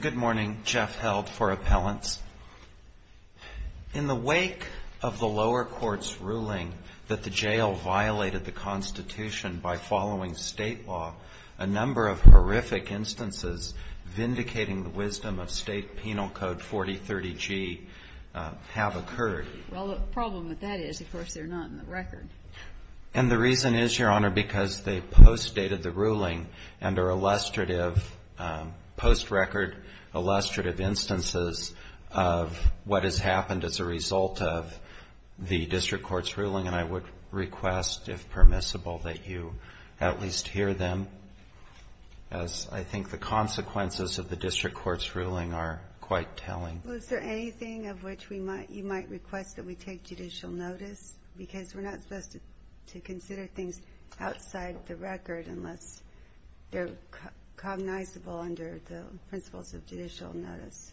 Good morning. Jeff Held for Appellants. In the wake of the lower court's ruling that the jail violated the Constitution by following State law, a number of horrific instances vindicating the wisdom of State Penal Code 4030G have occurred. Well, the problem with that is, of course, they're not in the record. And the reason is, Your Honor, because they postdated the ruling under illustrative post-record, illustrative instances of what has happened as a result of the district court's ruling. And I would request, if permissible, that you at least hear them, as I think the consequences of the district court's ruling are quite telling. Well, is there anything of which we might you might request that we take judicial notice? Because we're not supposed to consider things outside the record unless they're cognizable under the principles of judicial notice.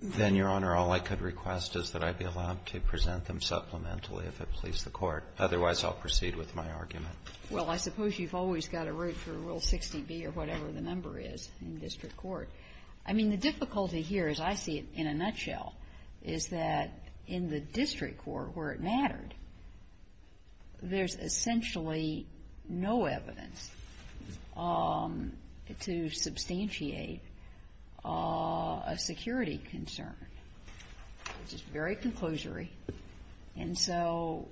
Then, Your Honor, all I could request is that I be allowed to present them supplementally if it please the Court. Otherwise, I'll proceed with my argument. Well, I suppose you've always got to root for Rule 60B or whatever the number is in district court. I mean, the difficulty here, as I see it in a nutshell, is that in the district court where it mattered, there's essentially no evidence to substantiate a security concern, which is very conclusory. And so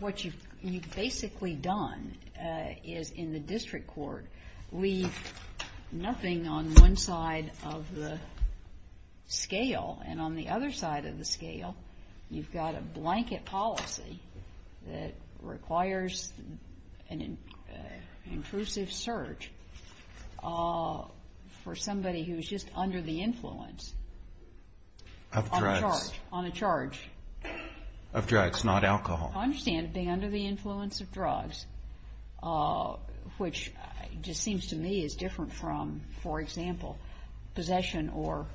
what you've basically done is in the district court leave nothing on one side of the scale. And on the other side of the scale, you've got a blanket policy that requires an intrusive search for somebody who's just under the influence. Of drugs. On a charge. Of drugs, not alcohol. I understand it being under the influence of drugs, which just seems to me is different from, for example, possession or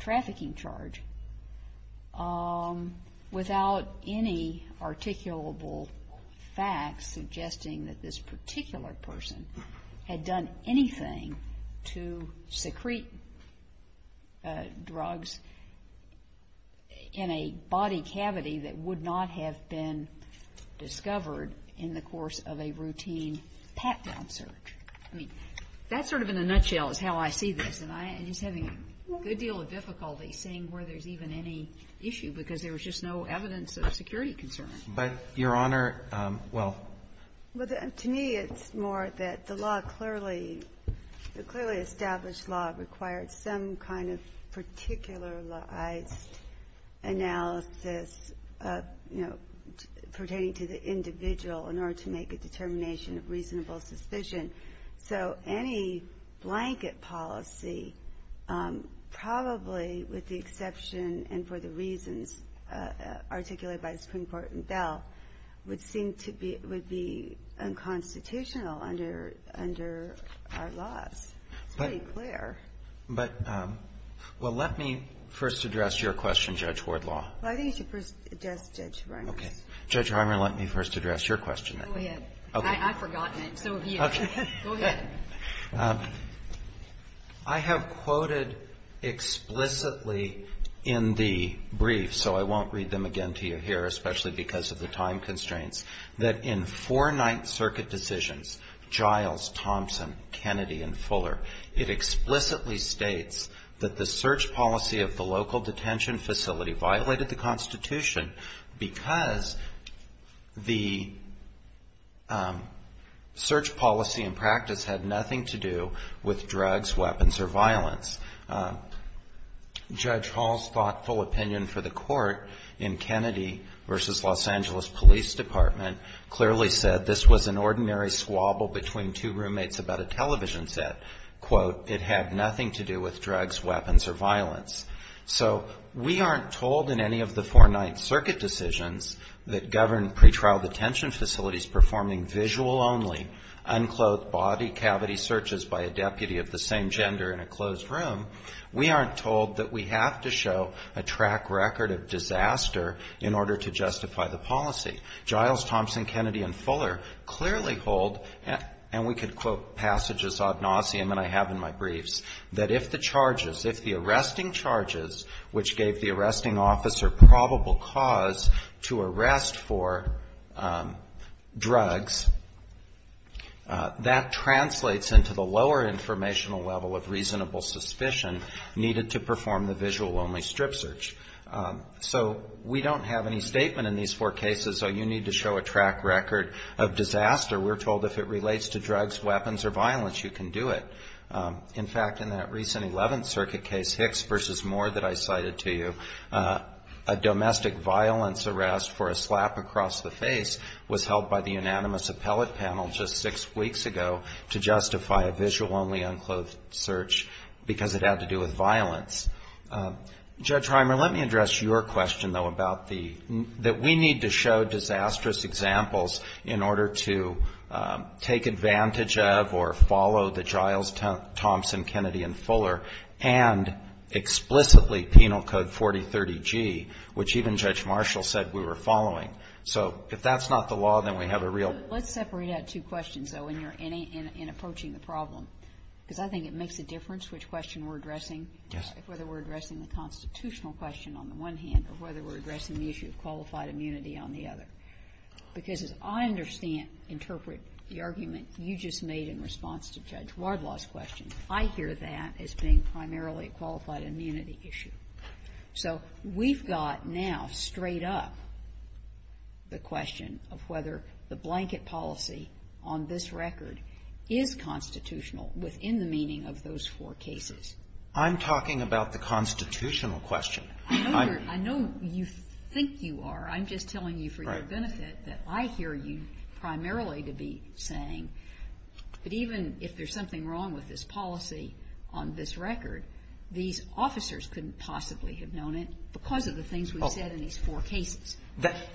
trafficking charge, without any articulable facts suggesting that this particular person had done anything to secrete drugs in a body cavity that would not have been discovered in the course of a routine pat-down search. I mean, that sort of in a nutshell is how I see this, and I'm just having a good deal of difficulty seeing where there's even any issue, because there was just no evidence of a security concern. But, Your Honor, well to me it's more that the law clearly, the clearly established law required some kind of particularized analysis of, you know, pertaining to the individual in order to make a determination of reasonable suspicion. So any blanket policy, probably with the exception and for the reasons articulated by the Supreme Court in Bell, would seem to be reasonable under our laws. It's pretty clear. But, well, let me first address your question, Judge Wardlaw. Well, I think you should first address Judge Reimers. Okay. Judge Reimers, let me first address your question. Go ahead. Okay. I've forgotten it, so you. Okay. Go ahead. I have quoted explicitly in the brief, so I won't read them again to you here, especially because of the time constraints, that in four Ninth Circuit decisions, Giles, Thompson, Kennedy, and Fuller, it explicitly states that the search policy of the local detention facility violated the Constitution because the search policy and practice had nothing to do with drugs, weapons, or violence. Judge Hall's thoughtful opinion for the Court in Kennedy v. Los Angeles Police Department clearly said this was an ordinary squabble between two roommates about a television set. Quote, it had nothing to do with drugs, weapons, or violence. So we aren't told in any of the four Ninth Circuit decisions that govern pretrial detention facilities performing visual-only, unclothed body cavity searches by a deputy of the same gender in a closed room, we aren't told that we have to show a track record of disaster in order to justify the policy. Giles, Thompson, Kennedy, and Fuller clearly hold, and we could quote passages ad nauseum that I have in my briefs, that if the charges, if the arresting charges, which gave the arresting cause to arrest for drugs, that translates into the lower informational level of reasonable suspicion needed to perform the visual-only strip search. So we don't have any statement in these four cases, oh, you need to show a track record of disaster. We're told if it relates to drugs, weapons, or violence, you can do it. In fact, in that recent Eleventh Circuit case, Hicks v. Moore, that I cited to you, a domestic violence arrest for a slap across the face was held by the unanimous appellate panel just six weeks ago to justify a visual-only unclothed search because it had to do with violence. Judge Reimer, let me address your question, though, about the, that we need to show disastrous examples in order to take advantage of or follow the Giles, Thompson, Kennedy, and Fuller and explicitly Penal Code 4030G, which even Judge Marshall said we were following. So if that's not the law, then we have a real question. So let's separate out two questions, though, in your any, in approaching the problem, because I think it makes a difference which question we're addressing, whether we're addressing the constitutional question on the one hand or whether we're addressing the issue of qualified immunity on the other. Because as I understand, interpret the argument you just made in response to Judge Wardlaw's question, I hear that as being primarily a qualified immunity issue. So we've got now, straight up, the question of whether the blanket policy on this record is constitutional within the meaning of those four cases. I'm talking about the constitutional question. I know you're, I know you think you are. I'm just telling you for your benefit that I hear you primarily to be saying, but even if there's something wrong with this policy on this record, these officers couldn't possibly have known it because of the things we've said in these four cases.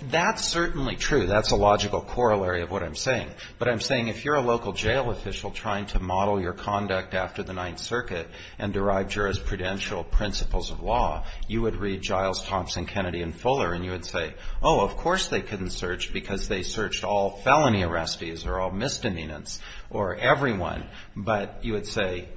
That's certainly true. That's a logical corollary of what I'm saying. But I'm saying if you're a local jail official trying to model your conduct after the Ninth Circuit and derive jurisprudential principles of law, you would read Giles, Thompson, Kennedy, and Fuller, and you would say, oh, of course they couldn't have searched because they searched all felony arrestees or all misdemeanants or everyone, but you would say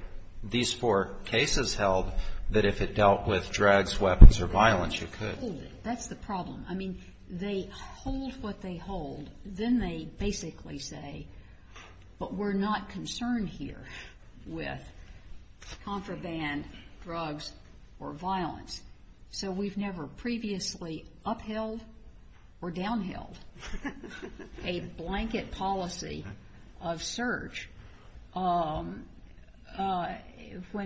these four cases held that if it dealt with drugs, weapons, or violence, you could. That's the problem. I mean, they hold what they hold. Then they basically say, but we're not concerned here with contraband drugs or a blanket policy of search when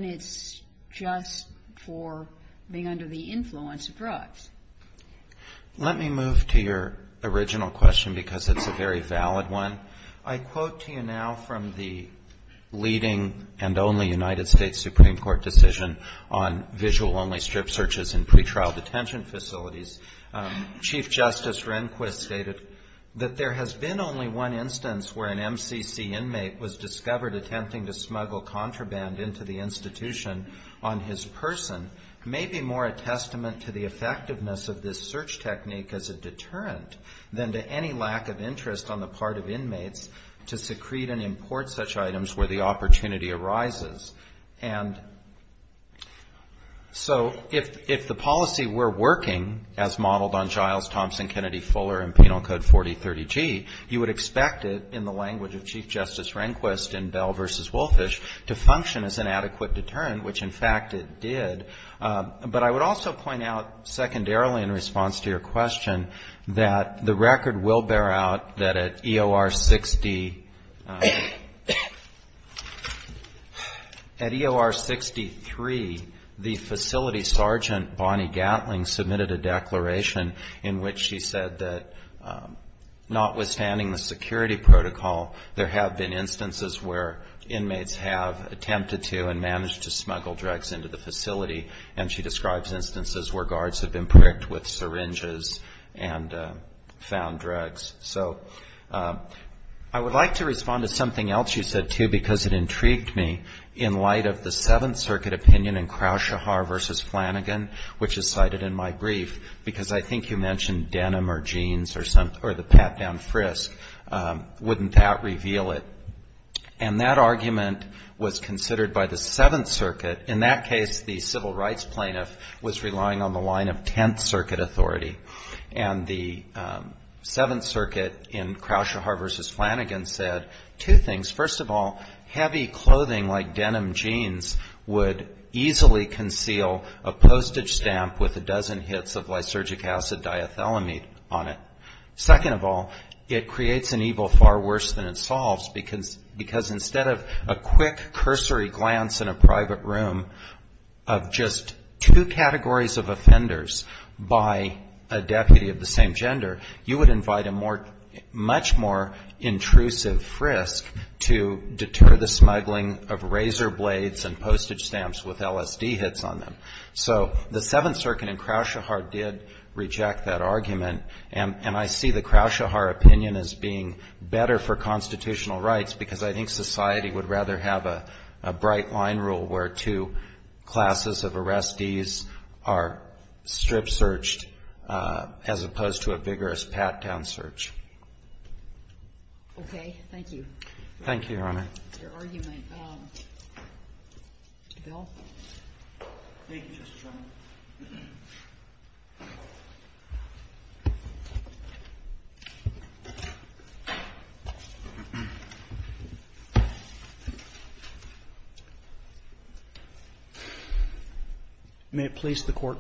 it's just for being under the influence of drugs. Let me move to your original question because it's a very valid one. I quote to you now from the leading and only United States Supreme Court decision on visual-only strip searches in pretrial detention facilities. Chief Justice Rehnquist stated that there has been only one instance where an MCC inmate was discovered attempting to smuggle contraband into the institution on his person may be more a testament to the effectiveness of this search technique as a deterrent than to any lack of interest on the part of inmates to secrete and import such items where the opportunity arises. And so if the policy were working as modeled on Giles, Thompson, Kennedy, Fuller, and Penal Code 4030G, you would expect it in the language of Chief Justice Rehnquist in Bell v. Wolfish to function as an adequate deterrent, which, in fact, it did. But I would also point out secondarily in response to your question that the record will bear out that at EOR 6-D, there is no evidence that an MCC inmate was involved at EOR 6-D-3, the facility sergeant Bonnie Gatling submitted a declaration in which she said that notwithstanding the security protocol, there have been instances where inmates have attempted to and managed to smuggle drugs into the facility, and she describes instances where guards have been pricked with syringes and found drugs. So I would like to respond to something else you said, too, because it intrigued me in light of the Seventh Circuit opinion in Crouchahar v. Flanagan, which is cited in my brief, because I think you mentioned denim or jeans or the pat-down frisk. Wouldn't that reveal it? And that argument was considered by the Seventh Circuit. In that case, the civil rights plaintiff was relying on the line of Tenth Circuit authority. And the Seventh Circuit in Crouchahar v. Flanagan said two things. First of all, heavy clothing like denim jeans would easily conceal a postage stamp with a dozen hits of lysergic acid diethylamide on it. Second of all, it creates an evil far worse than it solves, because instead of a quick cursory glance in a private room of just two categories of offenders by a deputy of the same gender, you would invite a much more intrusive frisk to deter the smuggling of razor blades and postage stamps with LSD hits on them. So the Seventh Circuit in Crouchahar did reject that argument, and I see the Crouchahar opinion as being better for constitutional rights, because I think society would rather have a bright line rule where two classes of arrestees are strip-searched as opposed to a vigorous pat-down search. Okay. Thank you. Thank you, Your Honor. Your argument. Mr. Bell. Thank you, Justice Roberts. May it please the Court.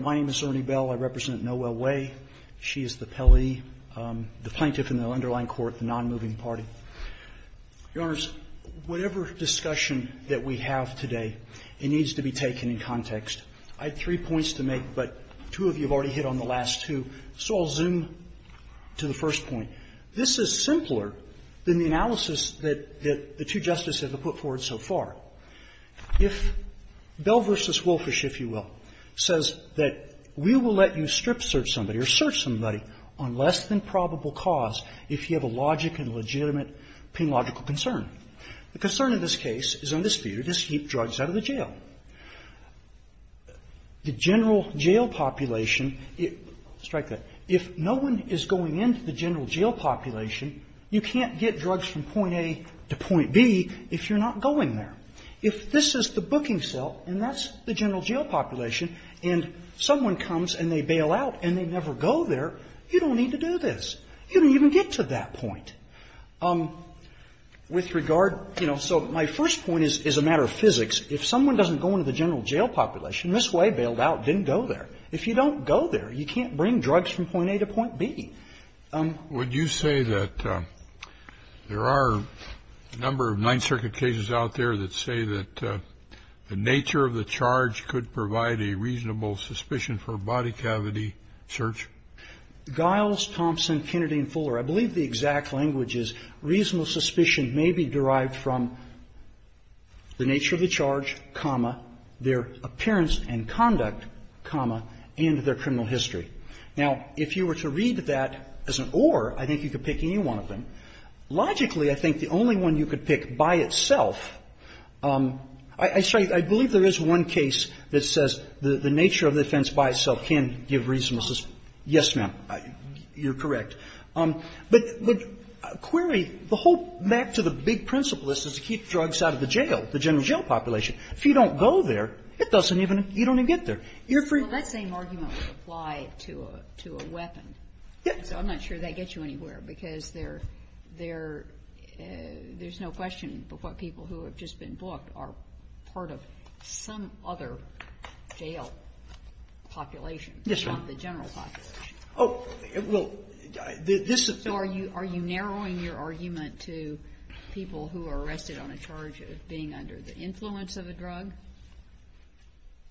My name is Ernie Bell. I represent Noelle Way. She is the Pelley, the plaintiff in the underlying court, the nonmoving party. Your Honors, whatever discussion that we have today, it needs to be taken in context. I have three points to make, but two of you have already hit on the last two, so I'll zoom to the first point. This is simpler than the analysis that the two Justices have put forward so far. If Bell v. Wolfish, if you will, says that we will let you strip-search somebody or search somebody on less than probable cause if you have a logic and legitimate penological concern, the concern in this case is in this theater, just keep drugs out of the jail. The general jail population, strike that, if no one is going into the general jail population, you can't get drugs from point A to point B if you're not going there. If this is the booking cell and that's the general jail population and someone comes and they bail out and they never go there, you don't need to do this. You don't even get to that point. With regard, you know, so my first point is a matter of physics. If someone doesn't go into the general jail population this way, bailed out, didn't go there, if you don't go there, you can't bring drugs from point A to point B. Would you say that there are a number of Ninth Circuit cases out there that say that the nature of the charge could provide a reasonable suspicion for body cavity search? Giles, Thompson, Kennedy, and Fuller, I believe the exact language is reasonable suspicion may be derived from the nature of the charge, comma, their appearance and conduct, comma, and their criminal history. Now, if you were to read that as an or, I think you could pick any one of them. Logically, I think the only one you could pick by itself, I believe there is one case that says the nature of the offense by itself can give reasonable suspicion. Yes, ma'am, you're correct. But the query, the whole map to the big principle is to keep drugs out of the jail, the general jail population. If you don't go there, it doesn't even, you don't even get there. You're free. Well, that same argument would apply to a weapon, so I'm not sure that gets you anywhere, because there's no question what people who have just been booked are part of some other jail population, if not the general population. Yes, ma'am. Oh, well, this is the thing. So are you narrowing your argument to people who are arrested on a charge of being under the influence of a drug?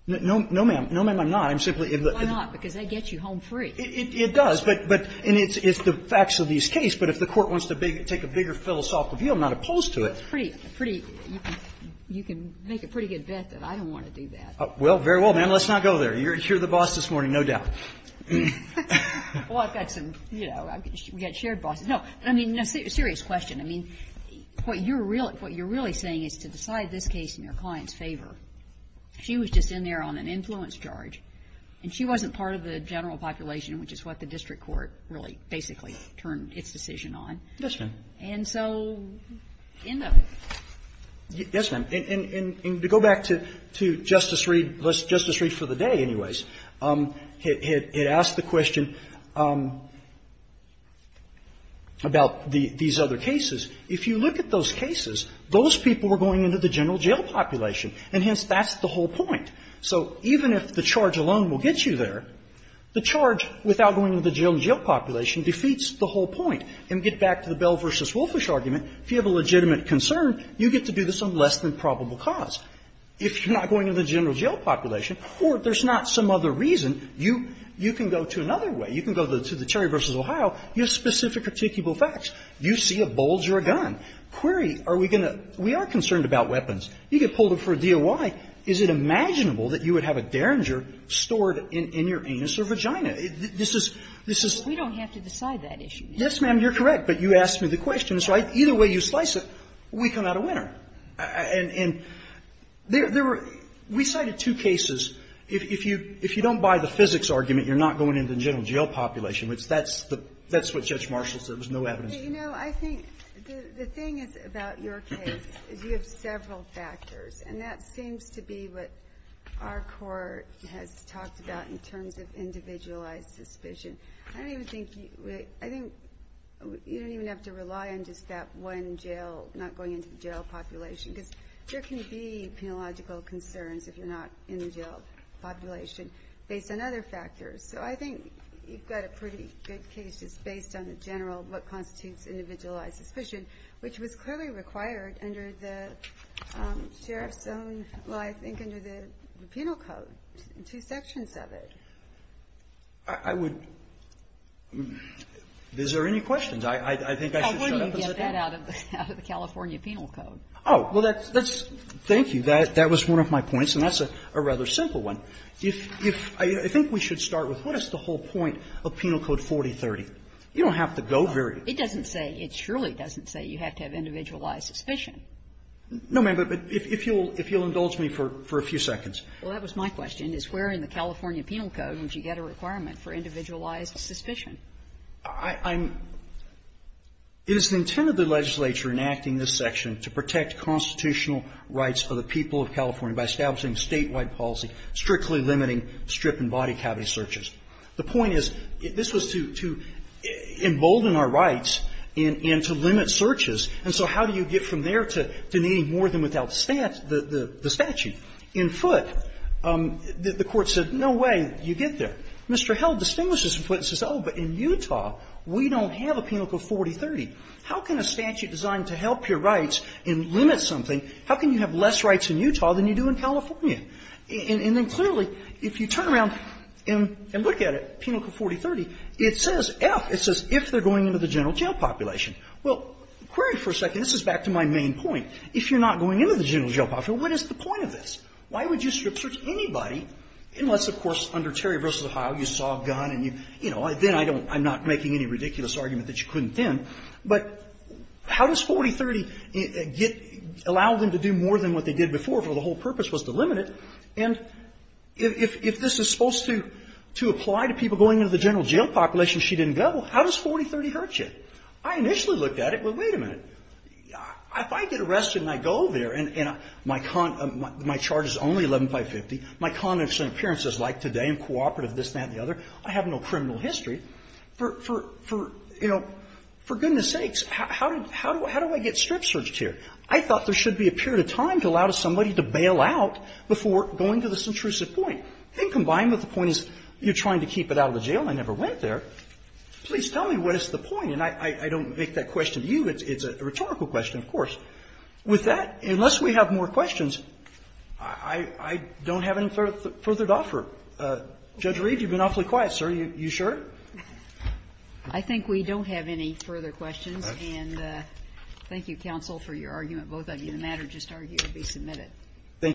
No, ma'am. No, ma'am, I'm not. I'm simply. Why not? Because that gets you home free. It does, but, and it's the facts of this case, but if the Court wants to take a bigger philosophical view, I'm not opposed to it. It's pretty, pretty, you can make a pretty good bet that I don't want to do that. Well, very well, ma'am, let's not go there. You're the boss this morning, no doubt. Well, I've got some, you know, we've got shared bosses. No, I mean, a serious question. I mean, what you're really saying is to decide this case in your client's favor. She was just in there on an influence charge, and she wasn't part of the general population, which is what the district court really basically turned its decision on. Yes, ma'am. And so in the. Yes, ma'am. And to go back to Justice Reed, Justice Reed for the day, anyways, had asked the question about these other cases. If you look at those cases, those people were going into the general jail population and hence that's the whole point. So even if the charge alone will get you there, the charge without going into the general jail population defeats the whole point. And to get back to the Bell v. Wolfish argument, if you have a legitimate concern, you get to do this on less than probable cause. If you're not going into the general jail population, or there's not some other reason, you can go to another way. You can go to the Terry v. Ohio, you have specific articulable facts. You see a bulge or a gun. Query, are we going to, we are concerned about weapons. You get pulled up for a DOI. Is it imaginable that you would have a Derringer stored in your anus or vagina? This is, this is. We don't have to decide that issue. Yes, ma'am, you're correct. But you asked me the question. So either way you slice it, we come out a winner. And there were, we cited two cases. If you don't buy the physics argument, you're not going into the general jail population, which that's the, that's what Judge Marshall said. There was no evidence. You know, I think the thing is about your case is you have several factors. And that seems to be what our court has talked about in terms of individualized suspicion. I don't even think you, I think you don't even have to rely on just that one jail, not going into the jail population, because there can be penological concerns if you're not in the jail population based on other factors. So I think you've got a pretty good case just based on the general, what constitutes individualized suspicion, which was clearly required under the sheriff's own, well, I think under the penal code, two sections of it. I would, is there any questions? I think I should shut up and start. How do you get that out of the California penal code? Oh, well, that's, thank you. That was one of my points, and that's a rather simple one. If, I think we should start with what is the whole point of Penal Code 4030? You don't have to go very far. It doesn't say, it surely doesn't say you have to have individualized suspicion. No, ma'am, but if you'll indulge me for a few seconds. Well, that was my question, is where in the California penal code would you get a requirement for individualized suspicion? I'm, it is the intent of the legislature enacting this section to protect constitutional rights of the people of California by establishing statewide policy, strictly limiting strip and body cavity searches. The point is, this was to embolden our rights and to limit searches, and so how do you get from there to needing more than without the statute? In Foote, the Court said, no way you get there. Mr. Held distinguishes in Foote and says, oh, but in Utah, we don't have a Penal Code 4030. How can a statute designed to help your rights and limit something, how can you have less rights in Utah than you do in California? And then clearly, if you turn around and look at it, Penal Code 4030, it says, if, it says, if they're going into the general jail population. Well, query for a second. This is back to my main point. If you're not going into the general jail population, what is the point of this? Why would you strip search anybody unless, of course, under Terry v. Ohio, you saw a gun and you, you know, then I don't, I'm not making any ridiculous argument that you couldn't then, but how does 4030 get, allow them to do more than what they did before where the whole purpose was to limit it, and if, if this is supposed to, to apply to people going into the general jail population, she didn't go, how does 4030 hurt you? I initially looked at it, well, wait a minute, if I get arrested and I go there and, and my con, my charge is only 11-550, my con and appearance is like today, I'm cooperative, this, that, and the other, I have no criminal history, for, for, for, you know, for goodness sakes, how, how, how do I get strip searched here? I thought there should be a period of time to allow somebody to bail out before going to this intrusive point. And combined with the point is you're trying to keep it out of the jail, I never went there. Please tell me what is the point, and I, I, I don't make that question to you. It's, it's a rhetorical question, of course. With that, unless we have more questions, I, I, I don't have any further, further to offer. Judge Reed, you've been awfully quiet, sir. You, you sure? I think we don't have any further questions, and thank you, counsel, for your argument. Both of you, the matter just argued to be submitted. Thank you.